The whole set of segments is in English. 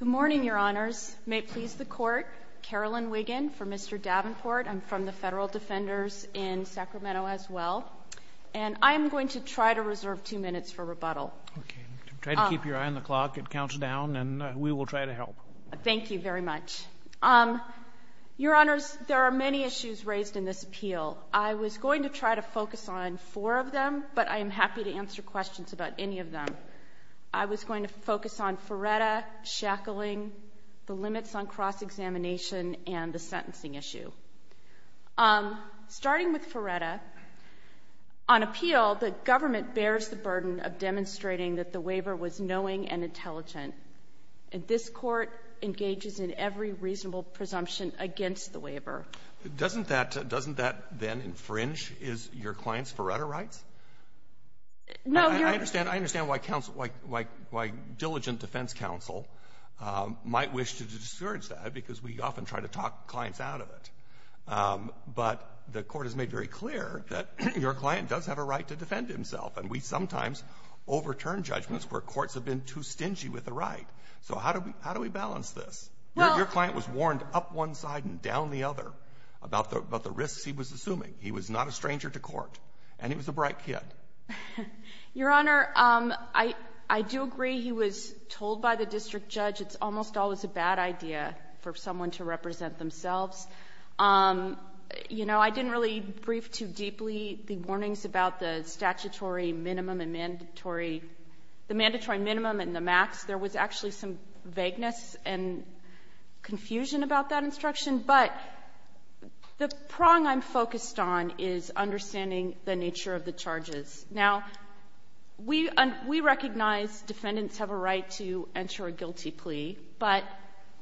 Good morning, Your Honors. May it please the Court, Carolyn Wiggin for Mr. Davenport. I'm from the Federal Defenders in Sacramento as well. And I'm going to try to reserve two minutes for rebuttal. Try to keep your eye on the clock. It counts down and we will try to help. Thank you very much. Your Honors, there are many issues raised in this appeal. I was going to try to focus on four of them, but I am happy to answer questions about any of them. I was going to focus on Feretta, shackling, the limits on cross-examination, and the sentencing issue. Starting with Feretta, on appeal, the government bears the burden of demonstrating that the waiver was knowing and intelligent. And this Court engages in every reasonable presumption against the waiver. Doesn't that then infringe, is, your client's Feretta rights? No, Your Honor. I understand why counsel, like, why diligent defense counsel might wish to discourage that, because we often try to talk clients out of it. But the Court has made very clear that your client does have a right to defend himself. And we sometimes overturn judgments where courts have been too stingy with the right. So how do we balance this? Well Your client was warned up one side and down the other. About the risks he was assuming. He was not a stranger to court. And he was a bright kid. Your Honor, I do agree he was told by the district judge it's almost always a bad idea for someone to represent themselves. You know, I didn't really brief too deeply the warnings about the statutory minimum and mandatory – the mandatory minimum and the max. There was actually some vagueness and confusion about that instruction. But the prong I'm focused on is understanding the nature of the charges. Now, we – we recognize defendants have a right to enter a guilty plea. But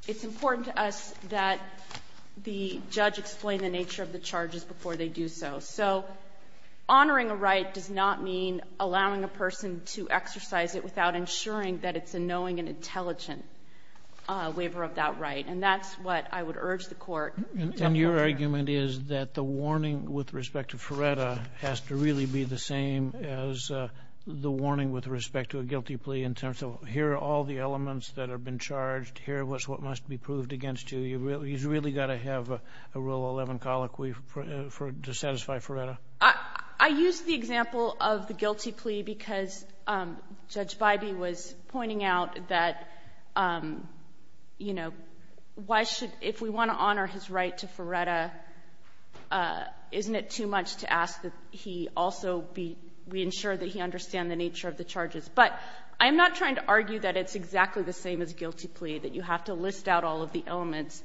it's important to us that the judge explain the nature of the charges before they do so. So honoring a right does not mean allowing a person to exercise it without ensuring that it's a knowing and intelligent waiver of that right. And that's what I would urge the Court to uphold. And your argument is that the warning with respect to Feretta has to really be the same as the warning with respect to a guilty plea in terms of here are all the elements that have been charged. Here is what must be proved against you. You really – he's really got to have a Rule 11 colloquy for – to satisfy Feretta. I used the example of the guilty plea because Judge Bybee was pointing out that, you know, why should – if we want to honor his right to Feretta, isn't it too much to ask that he also be – we ensure that he understand the nature of the charges? But I'm not trying to argue that it's exactly the same as a guilty plea, that you have to list out all of the elements.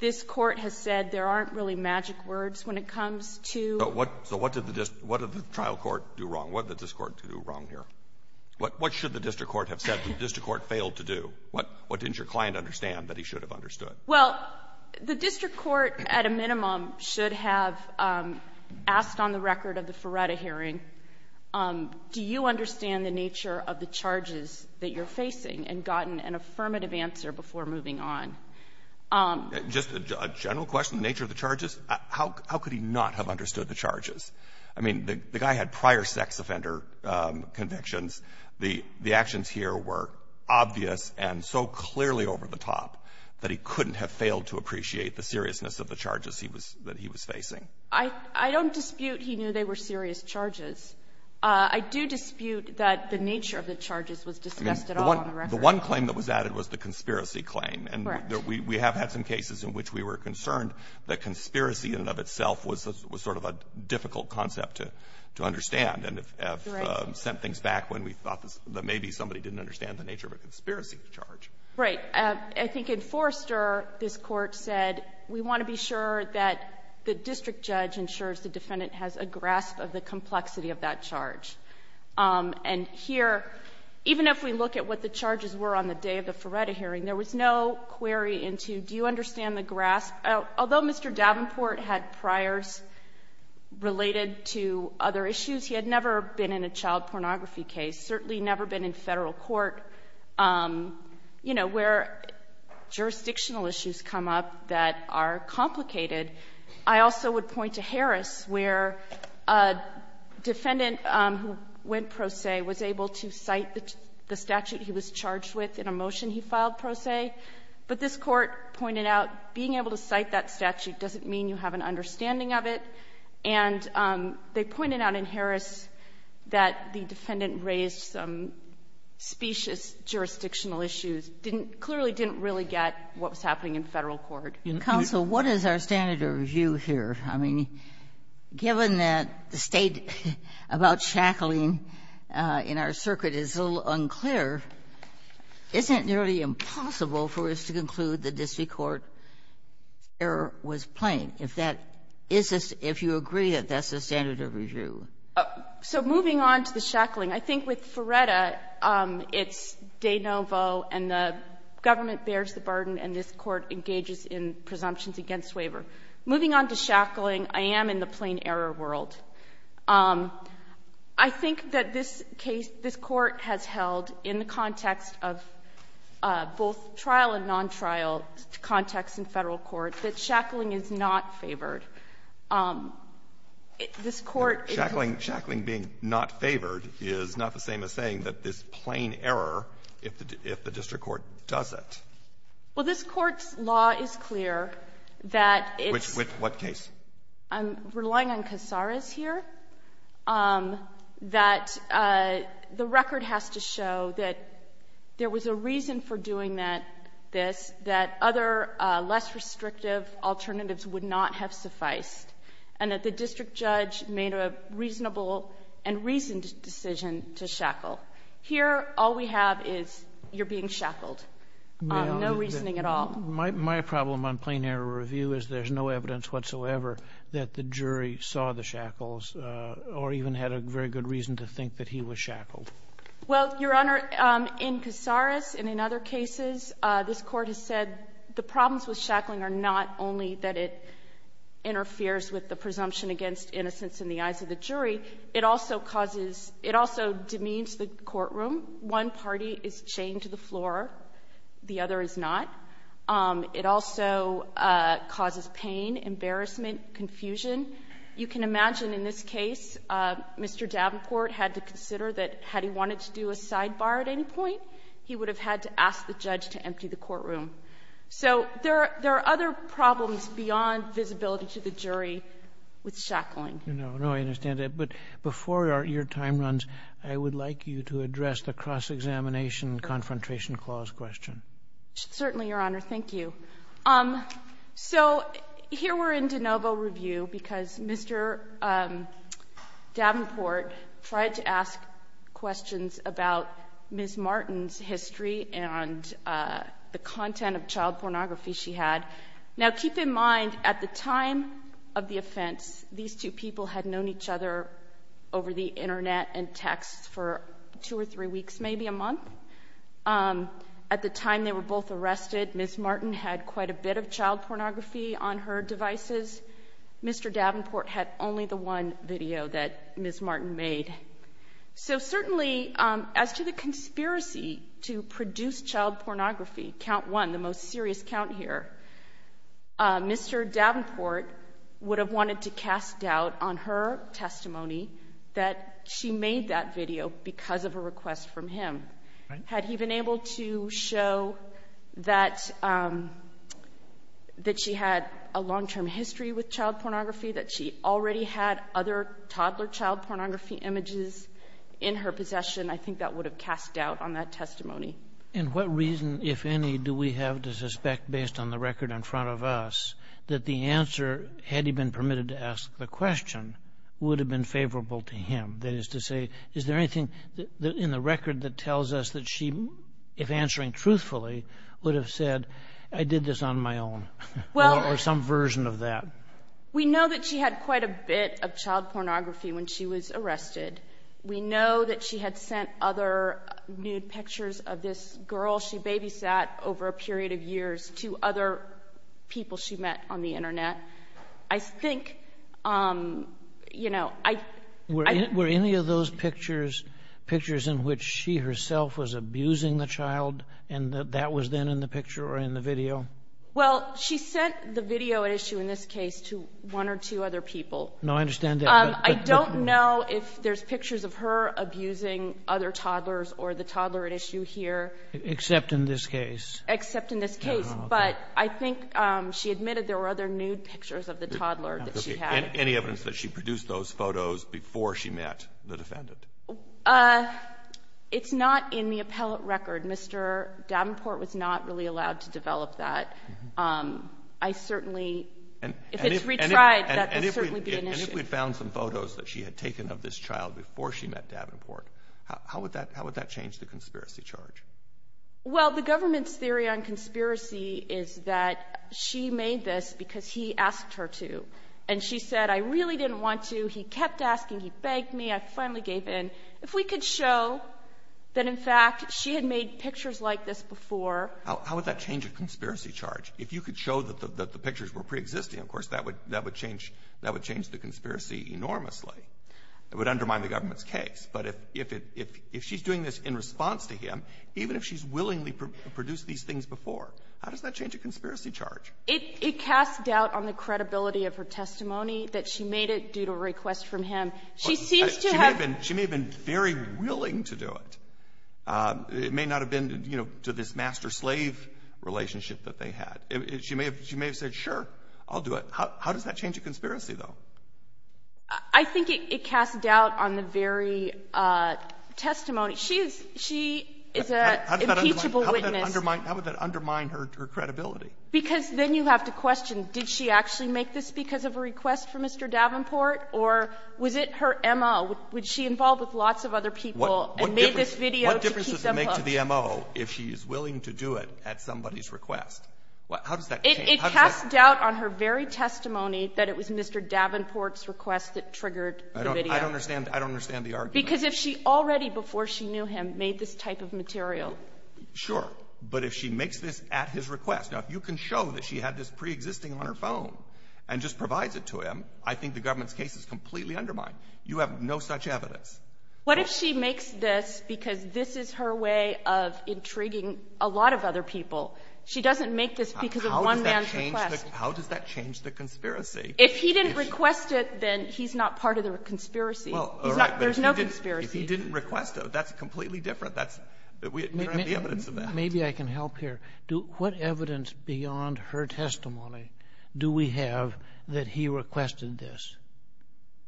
This Court has said there aren't really magic words when it comes to – So what did the – what did the trial court do wrong? What did this Court do wrong here? What should the district court have said that the district court failed to do? What didn't your client understand that he should have understood? Well, the district court, at a minimum, should have asked on the record of the Feretta hearing, do you understand the nature of the charges that you're facing, and gotten an affirmative answer before moving on. Just a general question, the nature of the charges. How could he not have understood the charges? I mean, the guy had prior sex offender convictions. The actions here were obvious and so clearly over the top that he couldn't have failed to appreciate the seriousness of the charges he was – that he was facing. I don't dispute he knew they were serious charges. I do dispute that the nature of the charges was discussed at all on the record. The one claim that was added was the conspiracy claim. Correct. We have had some cases in which we were concerned that conspiracy in and of itself was sort of a difficult concept to understand. And have sent things back when we thought that maybe somebody didn't understand the nature of a conspiracy charge. Right. I think in Forrester, this Court said, we want to be sure that the district judge ensures the defendant has a grasp of the complexity of that charge. And here, even if we look at what the charges were on the day of the Feretta hearing, there was no query into, do you understand the grasp? Although Mr. Davenport had priors related to other issues, he had never been in a child pornography case, certainly never been in Federal court, you know, where jurisdictional issues come up that are complicated. I also would point to Harris, where a defendant who went pro se was able to cite the statute he was charged with in a motion he filed pro se, and he was able to cite that statute in a motion he filed pro se. But this Court pointed out being able to cite that statute doesn't mean you have an understanding of it. And they pointed out in Harris that the defendant raised some specious jurisdictional issues, clearly didn't really get what was happening in Federal court. Kagan, what is our standard of review here? I mean, given that the State about shackling in our circuit is a little unclear, is it nearly impossible for us to conclude the district court error was plain, if that isn't, if you agree that that's the standard of review? So moving on to the shackling, I think with Feretta, it's de novo, and the government bears the burden, and this Court engages in presumptions against waiver. Moving on to shackling, I am in the plain error world. I think that this case, this Court has held in the context of both trial and non-trial context in Federal court that shackling is not favored. This Court is not favored. Shackling being not favored is not the same as saying that this plain error, if the district court does it. Well, this Court's law is clear that it's — With what case? I'm relying on Casares here, that the record has to show that there was a reason for doing that — this, that other less restrictive alternatives would not have sufficed, and that the district judge made a reasonable and reasoned decision to shackle. Here, all we have is you're being shackled. No reasoning at all. My problem on plain error review is there's no evidence whatsoever that the jury saw the shackles or even had a very good reason to think that he was shackled. Well, Your Honor, in Casares and in other cases, this Court has said the problems with shackling are not only that it interferes with the presumption against innocence in the eyes of the jury, it also causes — it also demeans the courtroom. One party is chained to the floor, the other is not. It also causes pain, embarrassment, confusion. You can imagine in this case, Mr. Davenport had to consider that had he wanted to do a sidebar at any point, he would have had to ask the judge to empty the courtroom. So there are other problems beyond visibility to the jury with shackling. No, no, I understand that. But before your time runs, I would like you to address the cross-examination and confrontation clause question. Certainly, Your Honor. Thank you. So here we're in de novo review because Mr. Davenport tried to ask questions about Ms. Martin's history and the content of child pornography she had. Now, keep in mind, at the time of the offense, these two people had known each other over the Internet and text for two or three weeks, maybe a month. At the time they were both arrested, Ms. Martin had quite a bit of child pornography on her devices. Mr. Davenport had only the one video that Ms. Martin made. So certainly, as to the conspiracy to produce child pornography, count one, the most serious count here, Mr. Davenport would have wanted to cast doubt on her testimony that she made that video because of a request from him. Had he been able to show that she had a long-term history with child pornography, that she already had other toddler child pornography images in her possession, I think that would have cast doubt on that testimony. And what reason, if any, do we have to suspect, based on the record in front of us, that the answer, had he been permitted to ask the question, would have been favorable to him? That is to say, is there anything in the record that tells us that she, if answering truthfully, would have said, I did this on my own or some version of that? We know that she had quite a bit of child pornography when she was arrested. We know that she had sent other nude pictures of this girl she babysat over a period of years to other people she met on the internet. I think, you know, I... Were any of those pictures in which she herself was abusing the child and that that was then in the picture or in the video? Well, she sent the video issue, in this case, to one or two other people. No, I understand that, but... There's pictures of her abusing other toddlers or the toddler at issue here. Except in this case. Except in this case. But I think she admitted there were other nude pictures of the toddler that she had. Any evidence that she produced those photos before she met the defendant? It's not in the appellate record. Mr. Davenport was not really allowed to develop that. I certainly... And if... If it's retried, that would certainly be an issue. If we had found some photos that she had taken of this child before she met Davenport, how would that change the conspiracy charge? Well, the government's theory on conspiracy is that she made this because he asked her to. And she said, I really didn't want to. He kept asking. He begged me. I finally gave in. If we could show that, in fact, she had made pictures like this before... How would that change a conspiracy charge? If you could show that the pictures were preexisting, of course, that would change the conspiracy enormously. It would undermine the government's case. But if she's doing this in response to him, even if she's willingly produced these things before, how does that change a conspiracy charge? It casts doubt on the credibility of her testimony that she made it due to a request from him. She seems to have... She may have been very willing to do it. It may not have been, you know, to this master-slave relationship that they had. She may have said, sure, I'll do it. How does that change a conspiracy, though? I think it casts doubt on the very testimony. She is an impeachable witness. How would that undermine her credibility? Because then you have to question, did she actually make this because of a request from Mr. Davenport? Or was it her MO? Was she involved with lots of other people and made this video to keep them hooked? What difference does it make to the MO if she's willing to do it at somebody's request? How does that change? It casts doubt on her very testimony that it was Mr. Davenport's request that triggered the video. I don't understand. I don't understand the argument. Because if she already, before she knew him, made this type of material... Sure. But if she makes this at his request, now, if you can show that she had this preexisting on her phone and just provides it to him, I think the government's case is completely undermined. You have no such evidence. What if she makes this because this is her way of intriguing a lot of other people? She doesn't make this because of one man's request. How does that change the conspiracy? If he didn't request it, then he's not part of the conspiracy. Well, all right. There's no conspiracy. If he didn't request it, that's completely different. That's the evidence of that. Maybe I can help here. What evidence beyond her testimony do we have that he requested this?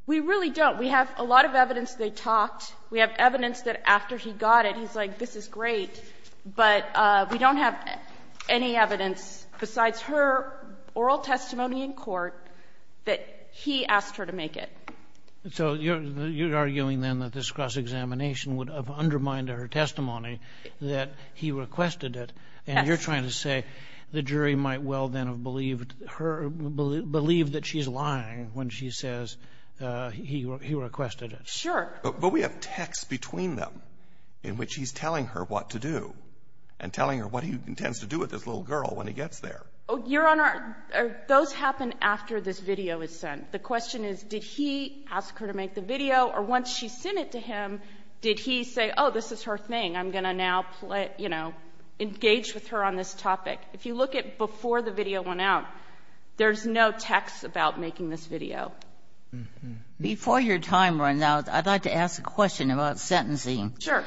We really don't. We have a lot of evidence they talked. We have evidence that after he got it, he's like, this is great. But we don't have any evidence besides her oral testimony in court that he asked her to make it. So you're arguing, then, that this cross-examination would have undermined her testimony that he requested it. Yes. And you're trying to say the jury might well then have believed her or believed that she's lying when she says he requested it. Sure. But we have text between them in which he's telling her what to do and telling her what he intends to do with this little girl when he gets there. Your Honor, those happen after this video is sent. The question is, did he ask her to make the video? Or once she sent it to him, did he say, oh, this is her thing. I'm going to now, you know, engage with her on this topic. If you look at before the video went out, there's no text about making this video. Before your time runs out, I'd like to ask a question about sentencing. Sure.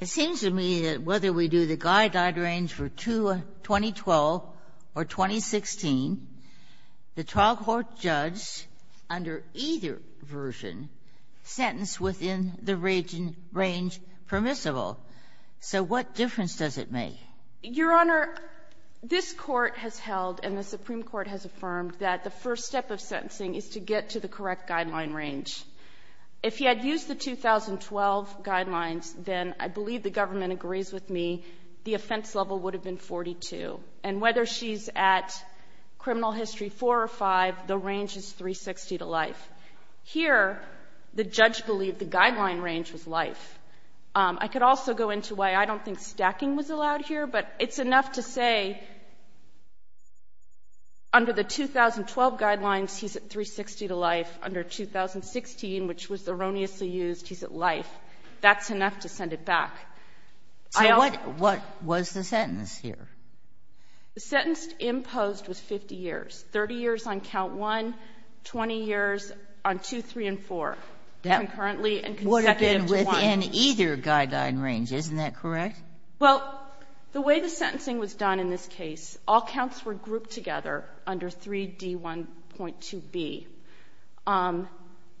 It seems to me that whether we do the guideline range for 2012 or 2016, the trial court judge under either version sentenced within the range permissible. So what difference does it make? Your Honor, this Court has held, and the Supreme Court has affirmed, that the first step of sentencing is to get to the correct guideline range. If he had used the 2012 guidelines, then I believe the government agrees with me, the offense level would have been 42. And whether she's at criminal history 4 or 5, the range is 360 to life. Here, the judge believed the guideline range was life. I could also go into why I don't think stacking was allowed here, but it's enough to say under the 2012 guidelines, he's at 360 to life. Under 2016, which was erroneously used, he's at life. That's enough to send it back. I don't think the sentence imposed was 50 years, 30 years on count one, 20 years on two, three, and four, concurrently and consecutive to one. That would have been within either guideline range, isn't that correct? Well, the way the sentencing was done in this case, all counts were grouped together under 3D1.2b.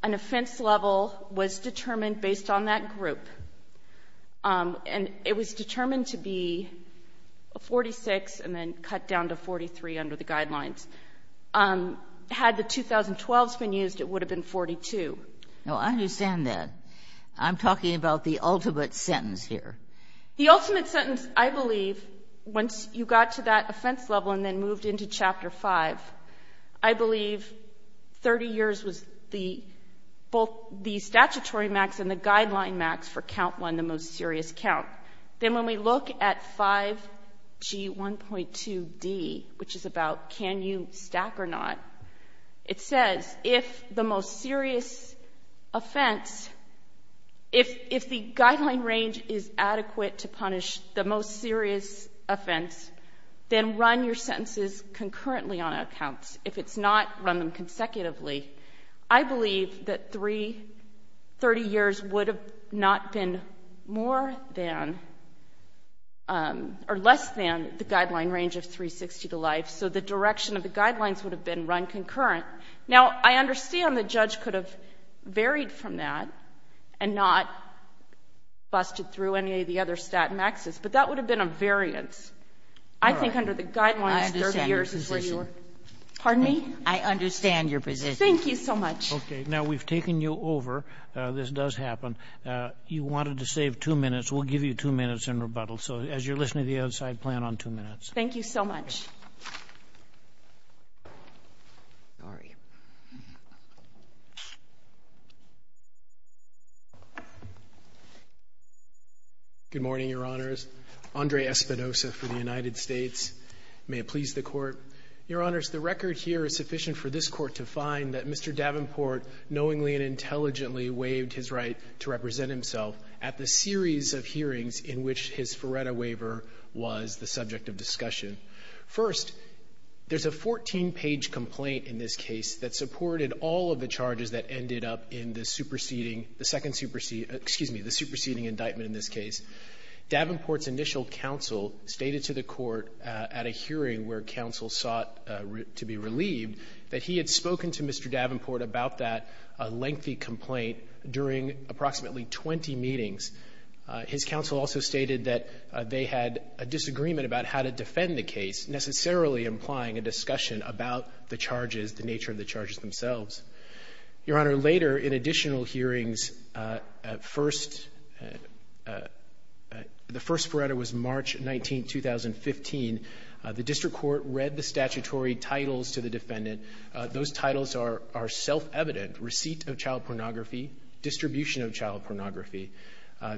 An offense level was determined based on that group. And it was determined to be 46 and then cut down to 43 under the guidelines. Had the 2012s been used, it would have been 42. Now, I understand that. I'm talking about the ultimate sentence here. The ultimate sentence, I believe, once you got to that offense level and then moved into Chapter 5, I believe 30 years was both the statutory max and the guideline max for count one, the most serious count. Then when we look at 5G1.2d, which is about can you stack or not, it says if the most adequate to punish the most serious offense, then run your sentences concurrently on accounts. If it's not, run them consecutively. I believe that 30 years would have not been more than or less than the guideline range of 360 to life. So the direction of the guidelines would have been run concurrent. Now, I understand the judge could have varied from that and not busted through any of the other stat maxes, but that would have been a variance. I think under the guidelines, 30 years is where you are. Pardon me? I understand your position. Thank you so much. Okay. Now, we've taken you over. This does happen. You wanted to save two minutes. We'll give you two minutes in rebuttal. So as you're listening to the outside, plan on two minutes. Thank you so much. Sorry. Good morning, Your Honors. Andre Espinosa for the United States. May it please the Court. Your Honors, the record here is sufficient for this Court to find that Mr. Davenport knowingly and intelligently waived his right to represent himself at the series of hearings in which his Faretta waiver was the subject of discussion. First, there's a 14-page complaint in this case that supported all of the charges that ended up in the superseding, the second superseding, excuse me, the superseding indictment in this case. Davenport's initial counsel stated to the court at a hearing where counsel sought to be relieved that he had spoken to Mr. Davenport about that lengthy complaint during approximately 20 meetings. His counsel also stated that they had a disagreement about how to defend the case, necessarily implying a discussion about the charges, the nature of the charges themselves. Your Honor, later in additional hearings, the first Faretta was March 19, 2015. The district court read the statutory titles to the defendant. Those titles are self-evident, receipt of child pornography, distribution of child pornography.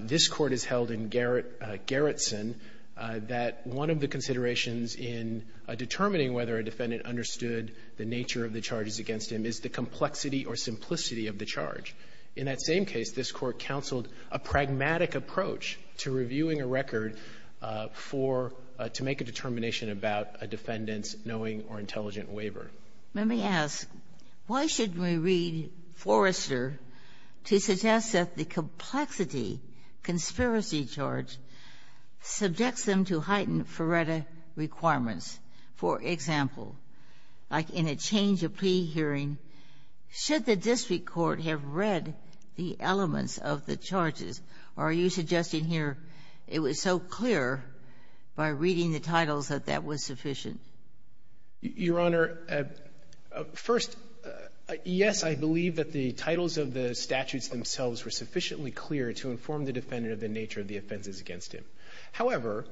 This Court has held in Gerritsen that one of the considerations in determining whether a defendant understood the nature of the charges against him is the complexity or simplicity of the charge. In that same case, this Court counseled a pragmatic approach to reviewing a record for to make a determination about a defendant's knowing or intelligent waiver. Let me ask, why should we read Forrester to suggest that the complexity, conspiracy charge, subjects them to heightened Faretta requirements? For example, like in a change of plea hearing, should the district court have read the elements of the charges, or are you suggesting here it was so clear by reading the titles that that was sufficient? Your Honor, first, yes, I believe that the titles of the statutes themselves were sufficiently clear to inform the defendant of the nature of the offenses against him. However,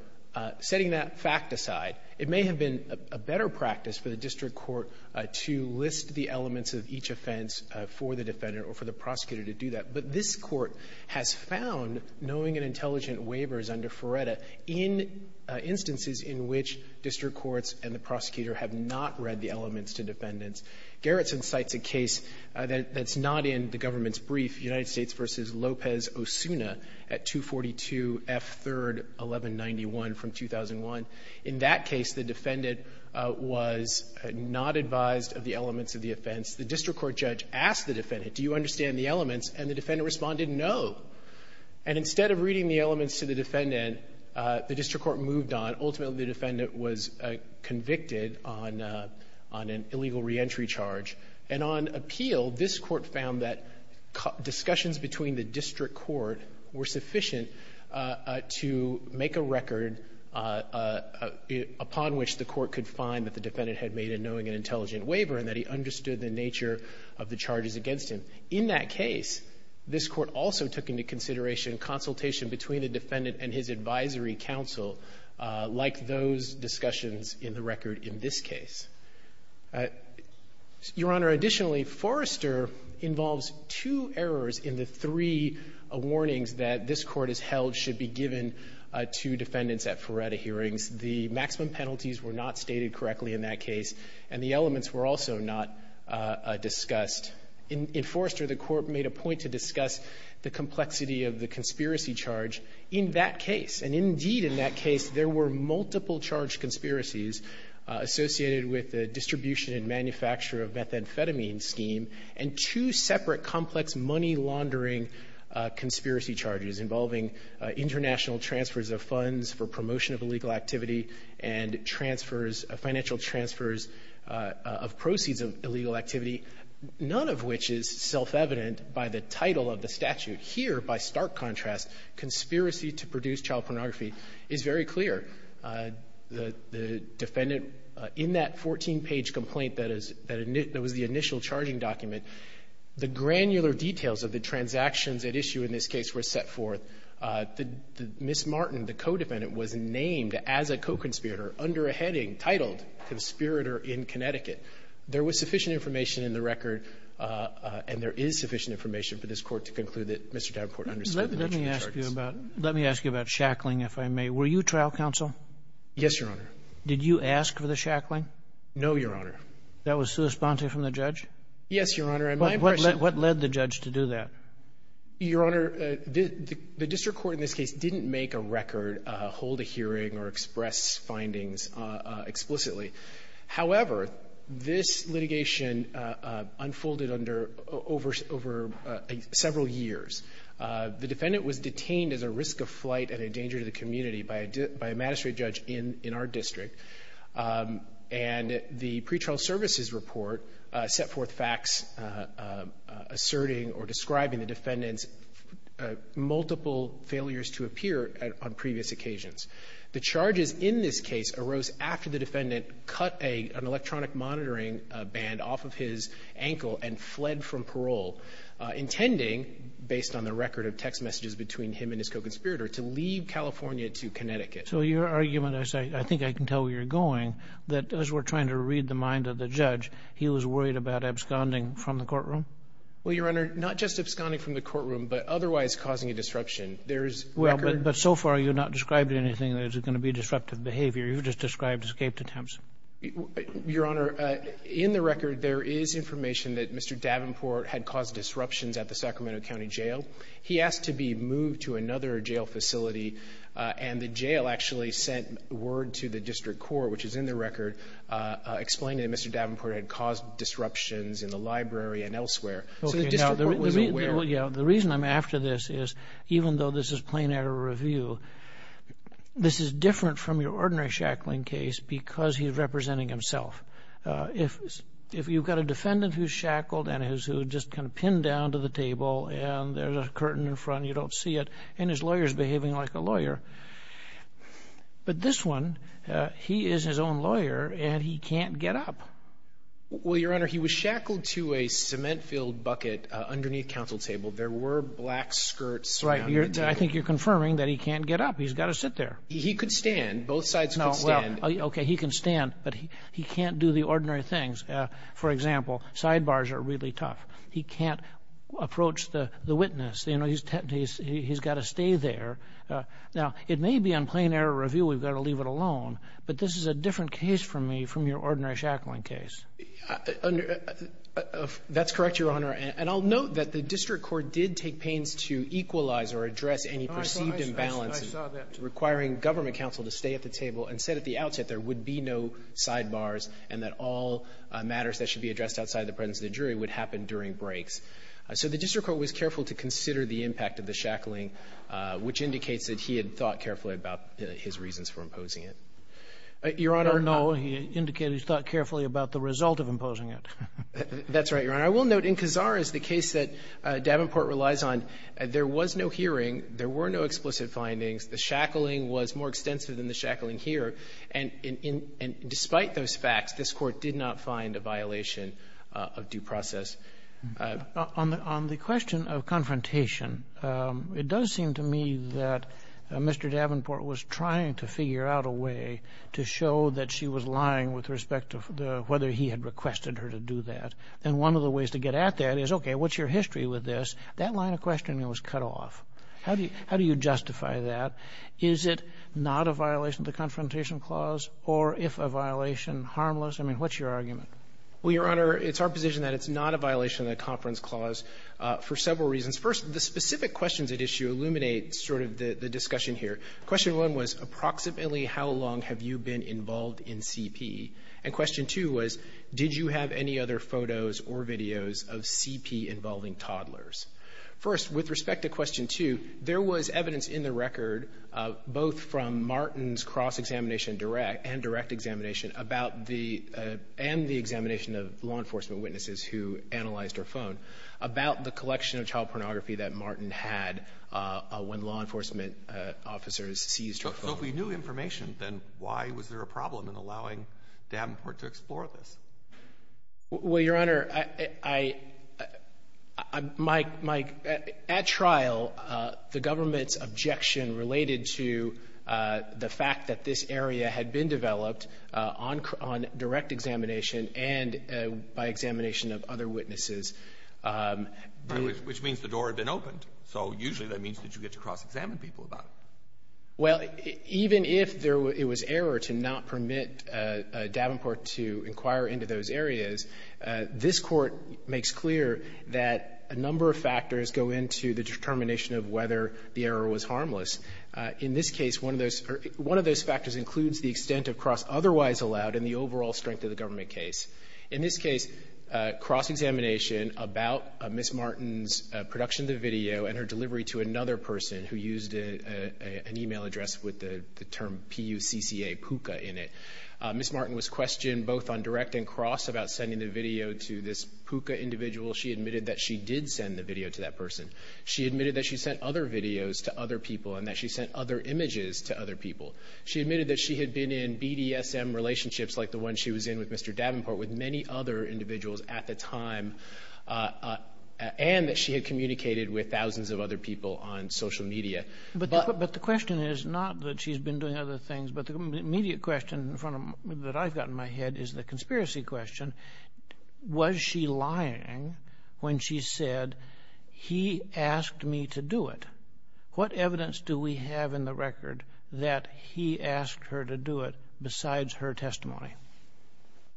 setting that fact aside, it may have been a better practice for the district court to list the elements of each offense for the defendant or for the prosecutor to do that. But this Court has found knowing and intelligent waivers under Faretta in instances in which district courts and the prosecutor have not read the elements to defendants. Garrison cites a case that's not in the government's brief, United States v. Lopez-Osuna at 242 F. 3rd 1191 from 2001. In that case, the defendant was not advised of the elements of the offense. The district court judge asked the defendant, do you understand the elements? And the defendant responded, no. And instead of reading the elements to the defendant, the district court moved on, ultimately, the defendant was convicted on an illegal reentry charge. And on appeal, this Court found that discussions between the district court were sufficient to make a record upon which the court could find that the defendant had made a knowing and intelligent waiver and that he understood the nature of the charges against him. In that case, this Court also took into consideration consultation between the defendant and his advisory counsel, like those discussions in the record in this case. Your Honor, additionally, Forrester involves two errors in the three warnings that this Court has held should be given to defendants at Faretta hearings. The maximum penalties were not stated correctly in that case, and the elements were also not discussed. In Forrester, the Court made a point to discuss the complexity of the conspiracy charge in that case. And indeed, in that case, there were multiple charge conspiracies associated with the distribution and manufacture of methamphetamine scheme and two separate complex money-laundering conspiracy charges involving international transfers of funds for promotion of illegal activity and transfers, financial transfers of proceeds of illegal activity, none of which is self-evident by the title of the statute. Here, by stark contrast, conspiracy to produce child pornography is very clear. The defendant, in that 14-page complaint that is the initial charging document, the granular details of the transactions at issue in this case were set forth. Ms. Martin, the co-defendant, was named as a co-conspirator under a heading titled Conspirator in Connecticut. There was sufficient information in the record, and there is sufficient information for this Court to conclude that Mr. Davenport understood the nature of the charges. Let me ask you about shackling, if I may. Were you trial counsel? Yes, Your Honor. Did you ask for the shackling? No, Your Honor. That was sui sponte from the judge? Yes, Your Honor. What led the judge to do that? Your Honor, the district court in this case didn't make a record, hold a hearing, or express findings explicitly. However, this litigation unfolded under over several years. The defendant was detained as a risk of flight and a danger to the community by a magistrate judge in our district, and the pretrial services report set forth facts asserting or describing the defendant's multiple failures to appear on previous occasions. The charges in this case arose after the defendant cut an electronic monitoring band off of his ankle and fled from parole, intending, based on the record of text messages between him and his co-conspirator, to leave California to Connecticut. So your argument is, I think I can tell where you're going, that as we're trying to read the mind of the judge, he was worried about absconding from the courtroom? Well, Your Honor, not just absconding from the courtroom, but otherwise causing a disruption. There is record But so far, you're not describing anything that is going to be disruptive behavior, you've just described escaped attempts. Your Honor, in the record, there is information that Mr. Davenport had caused disruptions at the Sacramento County Jail. He asked to be moved to another jail facility, and the jail actually sent word to the district court, which is in the record, explaining that Mr. Davenport had caused disruptions in the library and elsewhere. So the district court wasn't aware? The reason I'm after this is, even though this is plain error review, this is different from your ordinary shackling case because he's representing himself. If you've got a defendant who's shackled and who's just kind of pinned down to the table, and there's a curtain in front, you don't see it, and his lawyer's behaving like a lawyer, but this one, he is his own lawyer, and he can't get up. Well, Your Honor, he was shackled to a cement-filled bucket underneath counsel's table. There were black skirts around the table. I think you're confirming that he can't get up. He's got to sit there. He could stand. Both sides could stand. Okay, he can stand, but he can't do the ordinary things. For example, sidebars are really tough. He can't approach the witness. He's got to stay there. Now, it may be on plain error review we've got to leave it alone, but this is a shackling case. That's correct, Your Honor, and I'll note that the district court did take pains to equalize or address any perceived imbalances. I saw that. Requiring government counsel to stay at the table and said at the outset there would be no sidebars and that all matters that should be addressed outside the presence of the jury would happen during breaks. So the district court was careful to consider the impact of the shackling, which indicates that he had thought carefully about his reasons for imposing it. Your Honor, no. He indicated he thought carefully about the result of imposing it. That's right, Your Honor. I will note in Kazar, as the case that Davenport relies on, there was no hearing. There were no explicit findings. The shackling was more extensive than the shackling here. And despite those facts, this Court did not find a violation of due process. On the question of confrontation, it does seem to me that Mr. Davenport was trying to figure out a way to show that she was lying with respect to whether he had requested her to do that. And one of the ways to get at that is, okay, what's your history with this? That line of questioning was cut off. How do you justify that? Is it not a violation of the Confrontation Clause? Or if a violation, harmless? I mean, what's your argument? Well, Your Honor, it's our position that it's not a violation of the Conference Clause for several reasons. First, the specific questions at issue illuminate sort of the discussion here. Question one was, approximately how long have you been involved in CP? And question two was, did you have any other photos or videos of CP-involving toddlers? First, with respect to question two, there was evidence in the record, both from Martin's cross-examination and direct examination, and the examination of law enforcement witnesses who analyzed her phone, about the collection of child So if we knew information, then why was there a problem in allowing Davenport to explore this? Well, Your Honor, I — my — at trial, the government's objection related to the fact that this area had been developed on direct examination and by examination of other witnesses. Which means the door had been opened. So usually that means that you get to cross-examine people about it. Well, even if there — it was error to not permit Davenport to inquire into those areas, this Court makes clear that a number of factors go into the determination of whether the error was harmless. In this case, one of those — one of those factors includes the extent of cross-otherwise allowed and the overall strength of the government case. In this case, cross-examination about Ms. Martin's production of the video and her email address with the term P-U-C-C-A, PUCA, in it. Ms. Martin was questioned both on direct and cross about sending the video to this PUCA individual. She admitted that she did send the video to that person. She admitted that she sent other videos to other people and that she sent other images to other people. She admitted that she had been in BDSM relationships like the one she was in with Mr. Davenport with many other individuals at the time, and that she had communicated with thousands of other people on social media. But the question is not that she's been doing other things, but the immediate question in front of — that I've got in my head is the conspiracy question. Was she lying when she said, he asked me to do it? What evidence do we have in the record that he asked her to do it besides her testimony?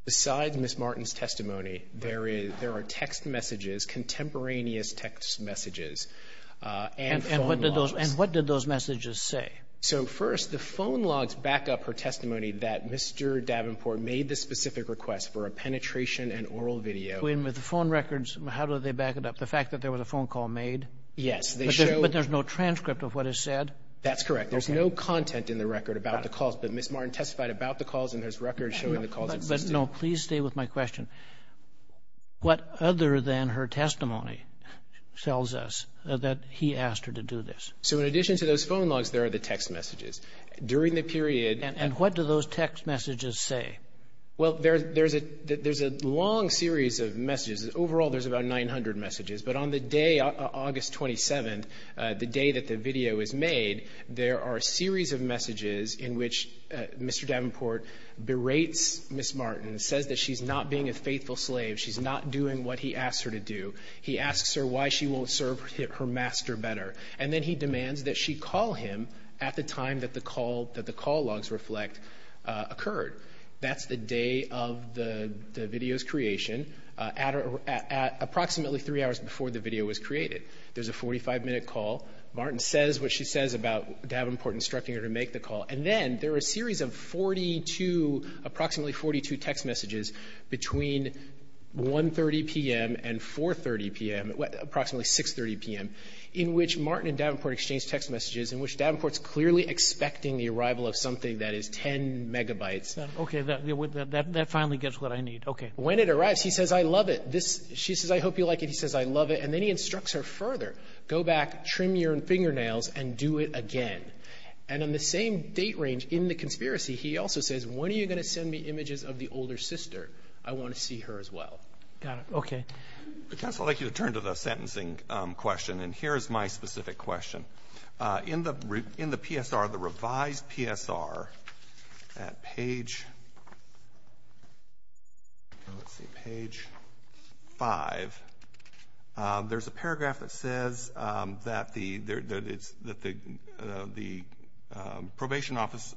Besides Ms. Martin's testimony, there is — there are text messages, contemporaneous text messages and phone calls. And what did those messages say? So first, the phone logs back up her testimony that Mr. Davenport made the specific request for a penetration and oral video. With the phone records, how do they back it up? The fact that there was a phone call made? Yes. But there's no transcript of what is said? That's correct. There's no content in the record about the calls, but Ms. Martin testified about the calls and there's records showing the calls existed. But no, please stay with my question. What other than her testimony tells us that he asked her to do this? So in addition to those phone logs, there are the text messages. During the period — And what do those text messages say? Well, there's a long series of messages. Overall, there's about 900 messages. But on the day, August 27th, the day that the video is made, there are a series of messages in which Mr. Davenport berates Ms. Martin, says that she's not being a faithful slave, she's not doing what he asked her to do. He asks her why she won't serve her master better. And then he demands that she call him at the time that the call — that the call logs reflect occurred. That's the day of the video's creation, approximately three hours before the video was created. There's a 45-minute call. Martin says what she says about Davenport instructing her to make the call. And then there are a series of 42, approximately 42, text messages between 1.30 p.m. and 4.30 p.m., approximately 6.30 p.m., in which Martin and Davenport exchange text messages, in which Davenport's clearly expecting the arrival of something that is 10 megabytes. Okay. That finally gets what I need. Okay. When it arrives, he says, I love it. She says, I hope you like it. He says, I love it. And then he instructs her further. Go back, trim your fingernails, and do it again. And on the same date range in the conspiracy, he also says, when are you going to send me images of the older sister? I want to see her as well. Got it. Okay. Counsel, I'd like you to turn to the sentencing question. And here is my specific question. In the PSR, the revised PSR, at page, let's see, page 5, there's a paragraph that says that the Probation Office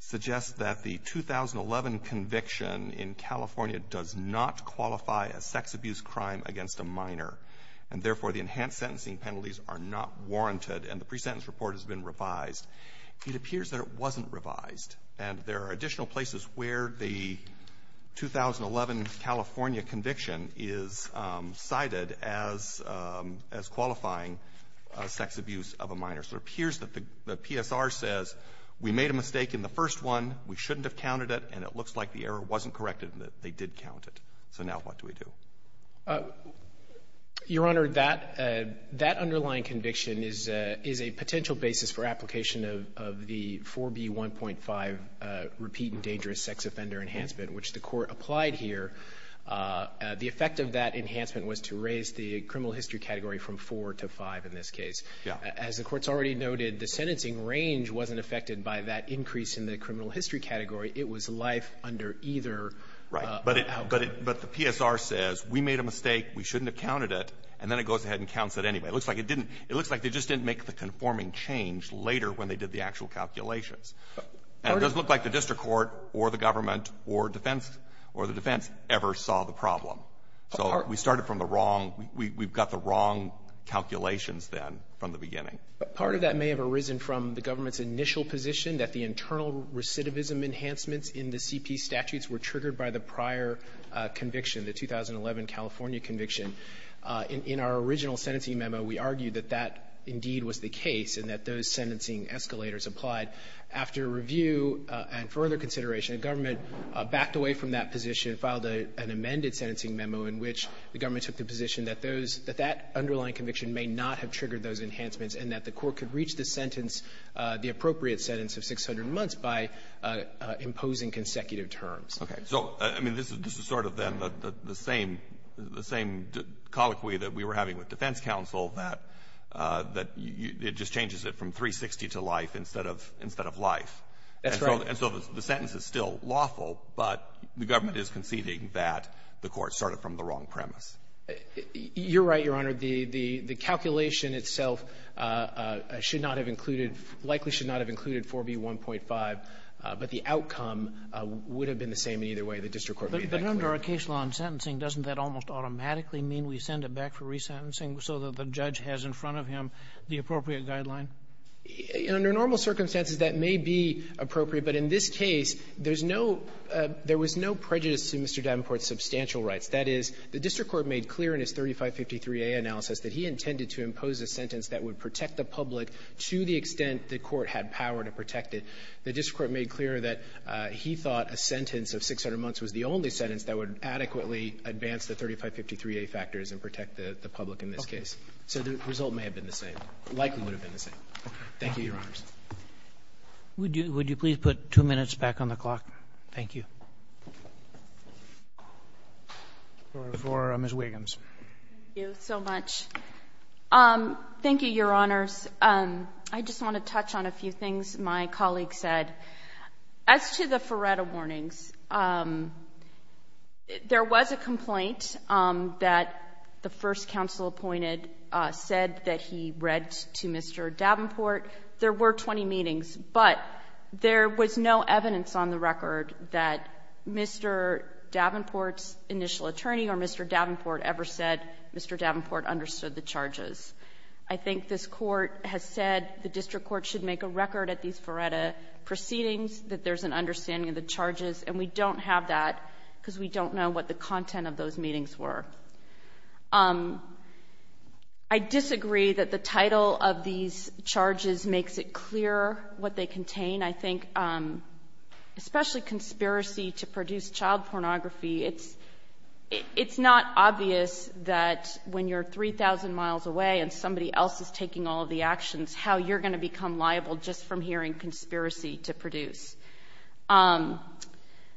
suggests that the 2011 conviction in California does not qualify as sex abuse crime against a minor. And therefore, the enhanced sentencing penalties are not warranted. And the pre-sentence report has been revised. It appears that it wasn't revised. And there are additional places where the 2011 California conviction is cited as qualifying sex abuse of a minor. So it appears that the PSR says, we made a mistake in the first one, we shouldn't have counted it, and it looks like the error wasn't corrected and that they did count it. So now what do we do? Your Honor, that underlying conviction is a potential basis for application of the 4B1.5 repeat and dangerous sex offender enhancement, which the Court applied here. The effect of that enhancement was to raise the criminal history category from 4 to 5 in this case. As the Court's already noted, the sentencing range wasn't affected by that increase in the criminal history category. It was life under either outcome. But the PSR says, we made a mistake, we shouldn't have counted it, and then it goes ahead and counts it anyway. It looks like it didn't. It looks like they just didn't make the conforming change later when they did the actual calculations. And it doesn't look like the district court or the government or defense or the defense ever saw the problem. So we started from the wrong we've got the wrong calculations then from the beginning. Part of that may have arisen from the government's initial position that the internal conviction, the 2011 California conviction, in our original sentencing memo, we argued that that indeed was the case and that those sentencing escalators applied. After review and further consideration, the government backed away from that position and filed an amended sentencing memo in which the government took the position that those that that underlying conviction may not have triggered those enhancements and that the court could reach the sentence, the appropriate sentence of 600 months by imposing consecutive terms. Okay. So, I mean, this is sort of then the same colloquy that we were having with defense counsel, that it just changes it from 360 to life instead of life. That's right. And so the sentence is still lawful, but the government is conceding that the court started from the wrong premise. You're right, Your Honor. The calculation itself should not have included, likely should not have included 4B1.5, but the outcome would have been the same in either way. The district court made that clear. But under our case law in sentencing, doesn't that almost automatically mean we send it back for resentencing so that the judge has in front of him the appropriate guideline? Under normal circumstances, that may be appropriate. But in this case, there's no — there was no prejudice to Mr. Davenport's substantial rights. That is, the district court made clear in his 3553A analysis that he intended to impose a sentence that would protect the public to the extent the court had power to protect it. The district court made clear that he thought a sentence of 600 months was the only sentence that would adequately advance the 3553A factors and protect the public in this case. Okay. So the result may have been the same. It likely would have been the same. Thank you, Your Honors. Would you please put two minutes back on the clock? Thank you. For Ms. Wiggins. Thank you so much. Thank you, Your Honors. I just want to touch on a few things my colleague said. As to the Feretta warnings, there was a complaint that the first counsel appointed said that he read to Mr. Davenport. There were 20 meetings, but there was no evidence on the record that Mr. Davenport's initial attorney or Mr. Davenport ever said Mr. Davenport understood the charges. I think this Court has said the district court should make a record at these Feretta proceedings that there's an understanding of the charges, and we don't have that because we don't know what the content of those meetings were. I disagree that the title of these charges makes it clear what they contain. I think especially conspiracy to produce child pornography, it's not obvious that when you're 3,000 miles away and somebody else is taking all of the actions, how you're going to become liable just from hearing conspiracy to produce.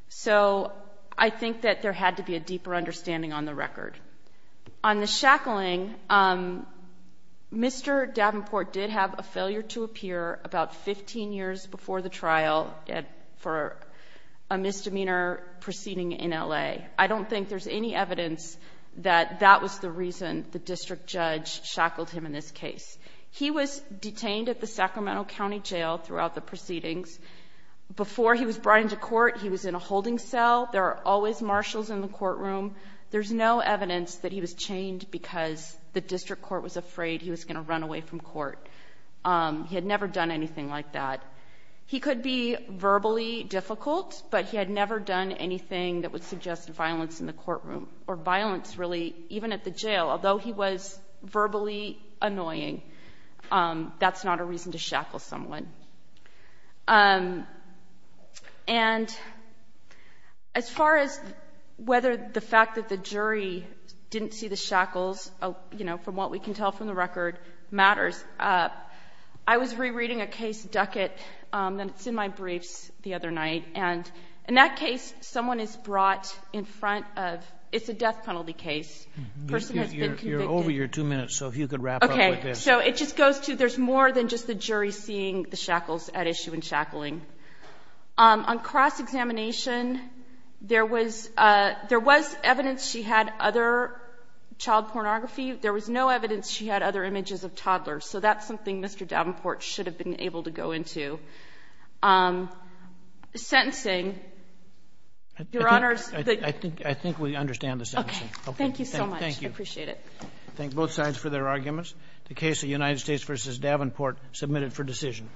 So I think that there had to be a deeper understanding on the record. On the shackling, Mr. Davenport did have a failure to appear about 15 years before the trial for a misdemeanor proceeding in L.A. I don't think there's any evidence that that was the reason the district judge shackled him in this case. He was detained at the Sacramento County Jail throughout the proceedings. Before he was brought into court, he was in a holding cell. There are always marshals in the courtroom. There's no evidence that he was chained because the district court was afraid he was going to run away from court. He had never done anything like that. He could be verbally difficult, but he had never done anything that would suggest violence in the courtroom or violence, really, even at the jail. Although he was verbally annoying, that's not a reason to shackle someone. And as far as whether the fact that the jury didn't see the shackles, you know, from what we can tell from the record, matters, I was rereading a case, Duckett, and it's in my briefs the other night. And in that case, someone is brought in front of — it's a death penalty case. The person has been convicted. You're over your two minutes, so if you could wrap up with this. Okay. So it just goes to there's more than just the jury seeing the shackles at issue and shackling. On cross-examination, there was — there was evidence she had other child pornography. There was no evidence she had other images of toddlers. So that's something Mr. Davenport should have been able to go into. Sentencing, Your Honors, the — I think — I think we understand the sentencing. Okay. Thank you so much. Thank you. I appreciate it. Thank both sides for their arguments. The case of United States v. Davenport submitted for decision.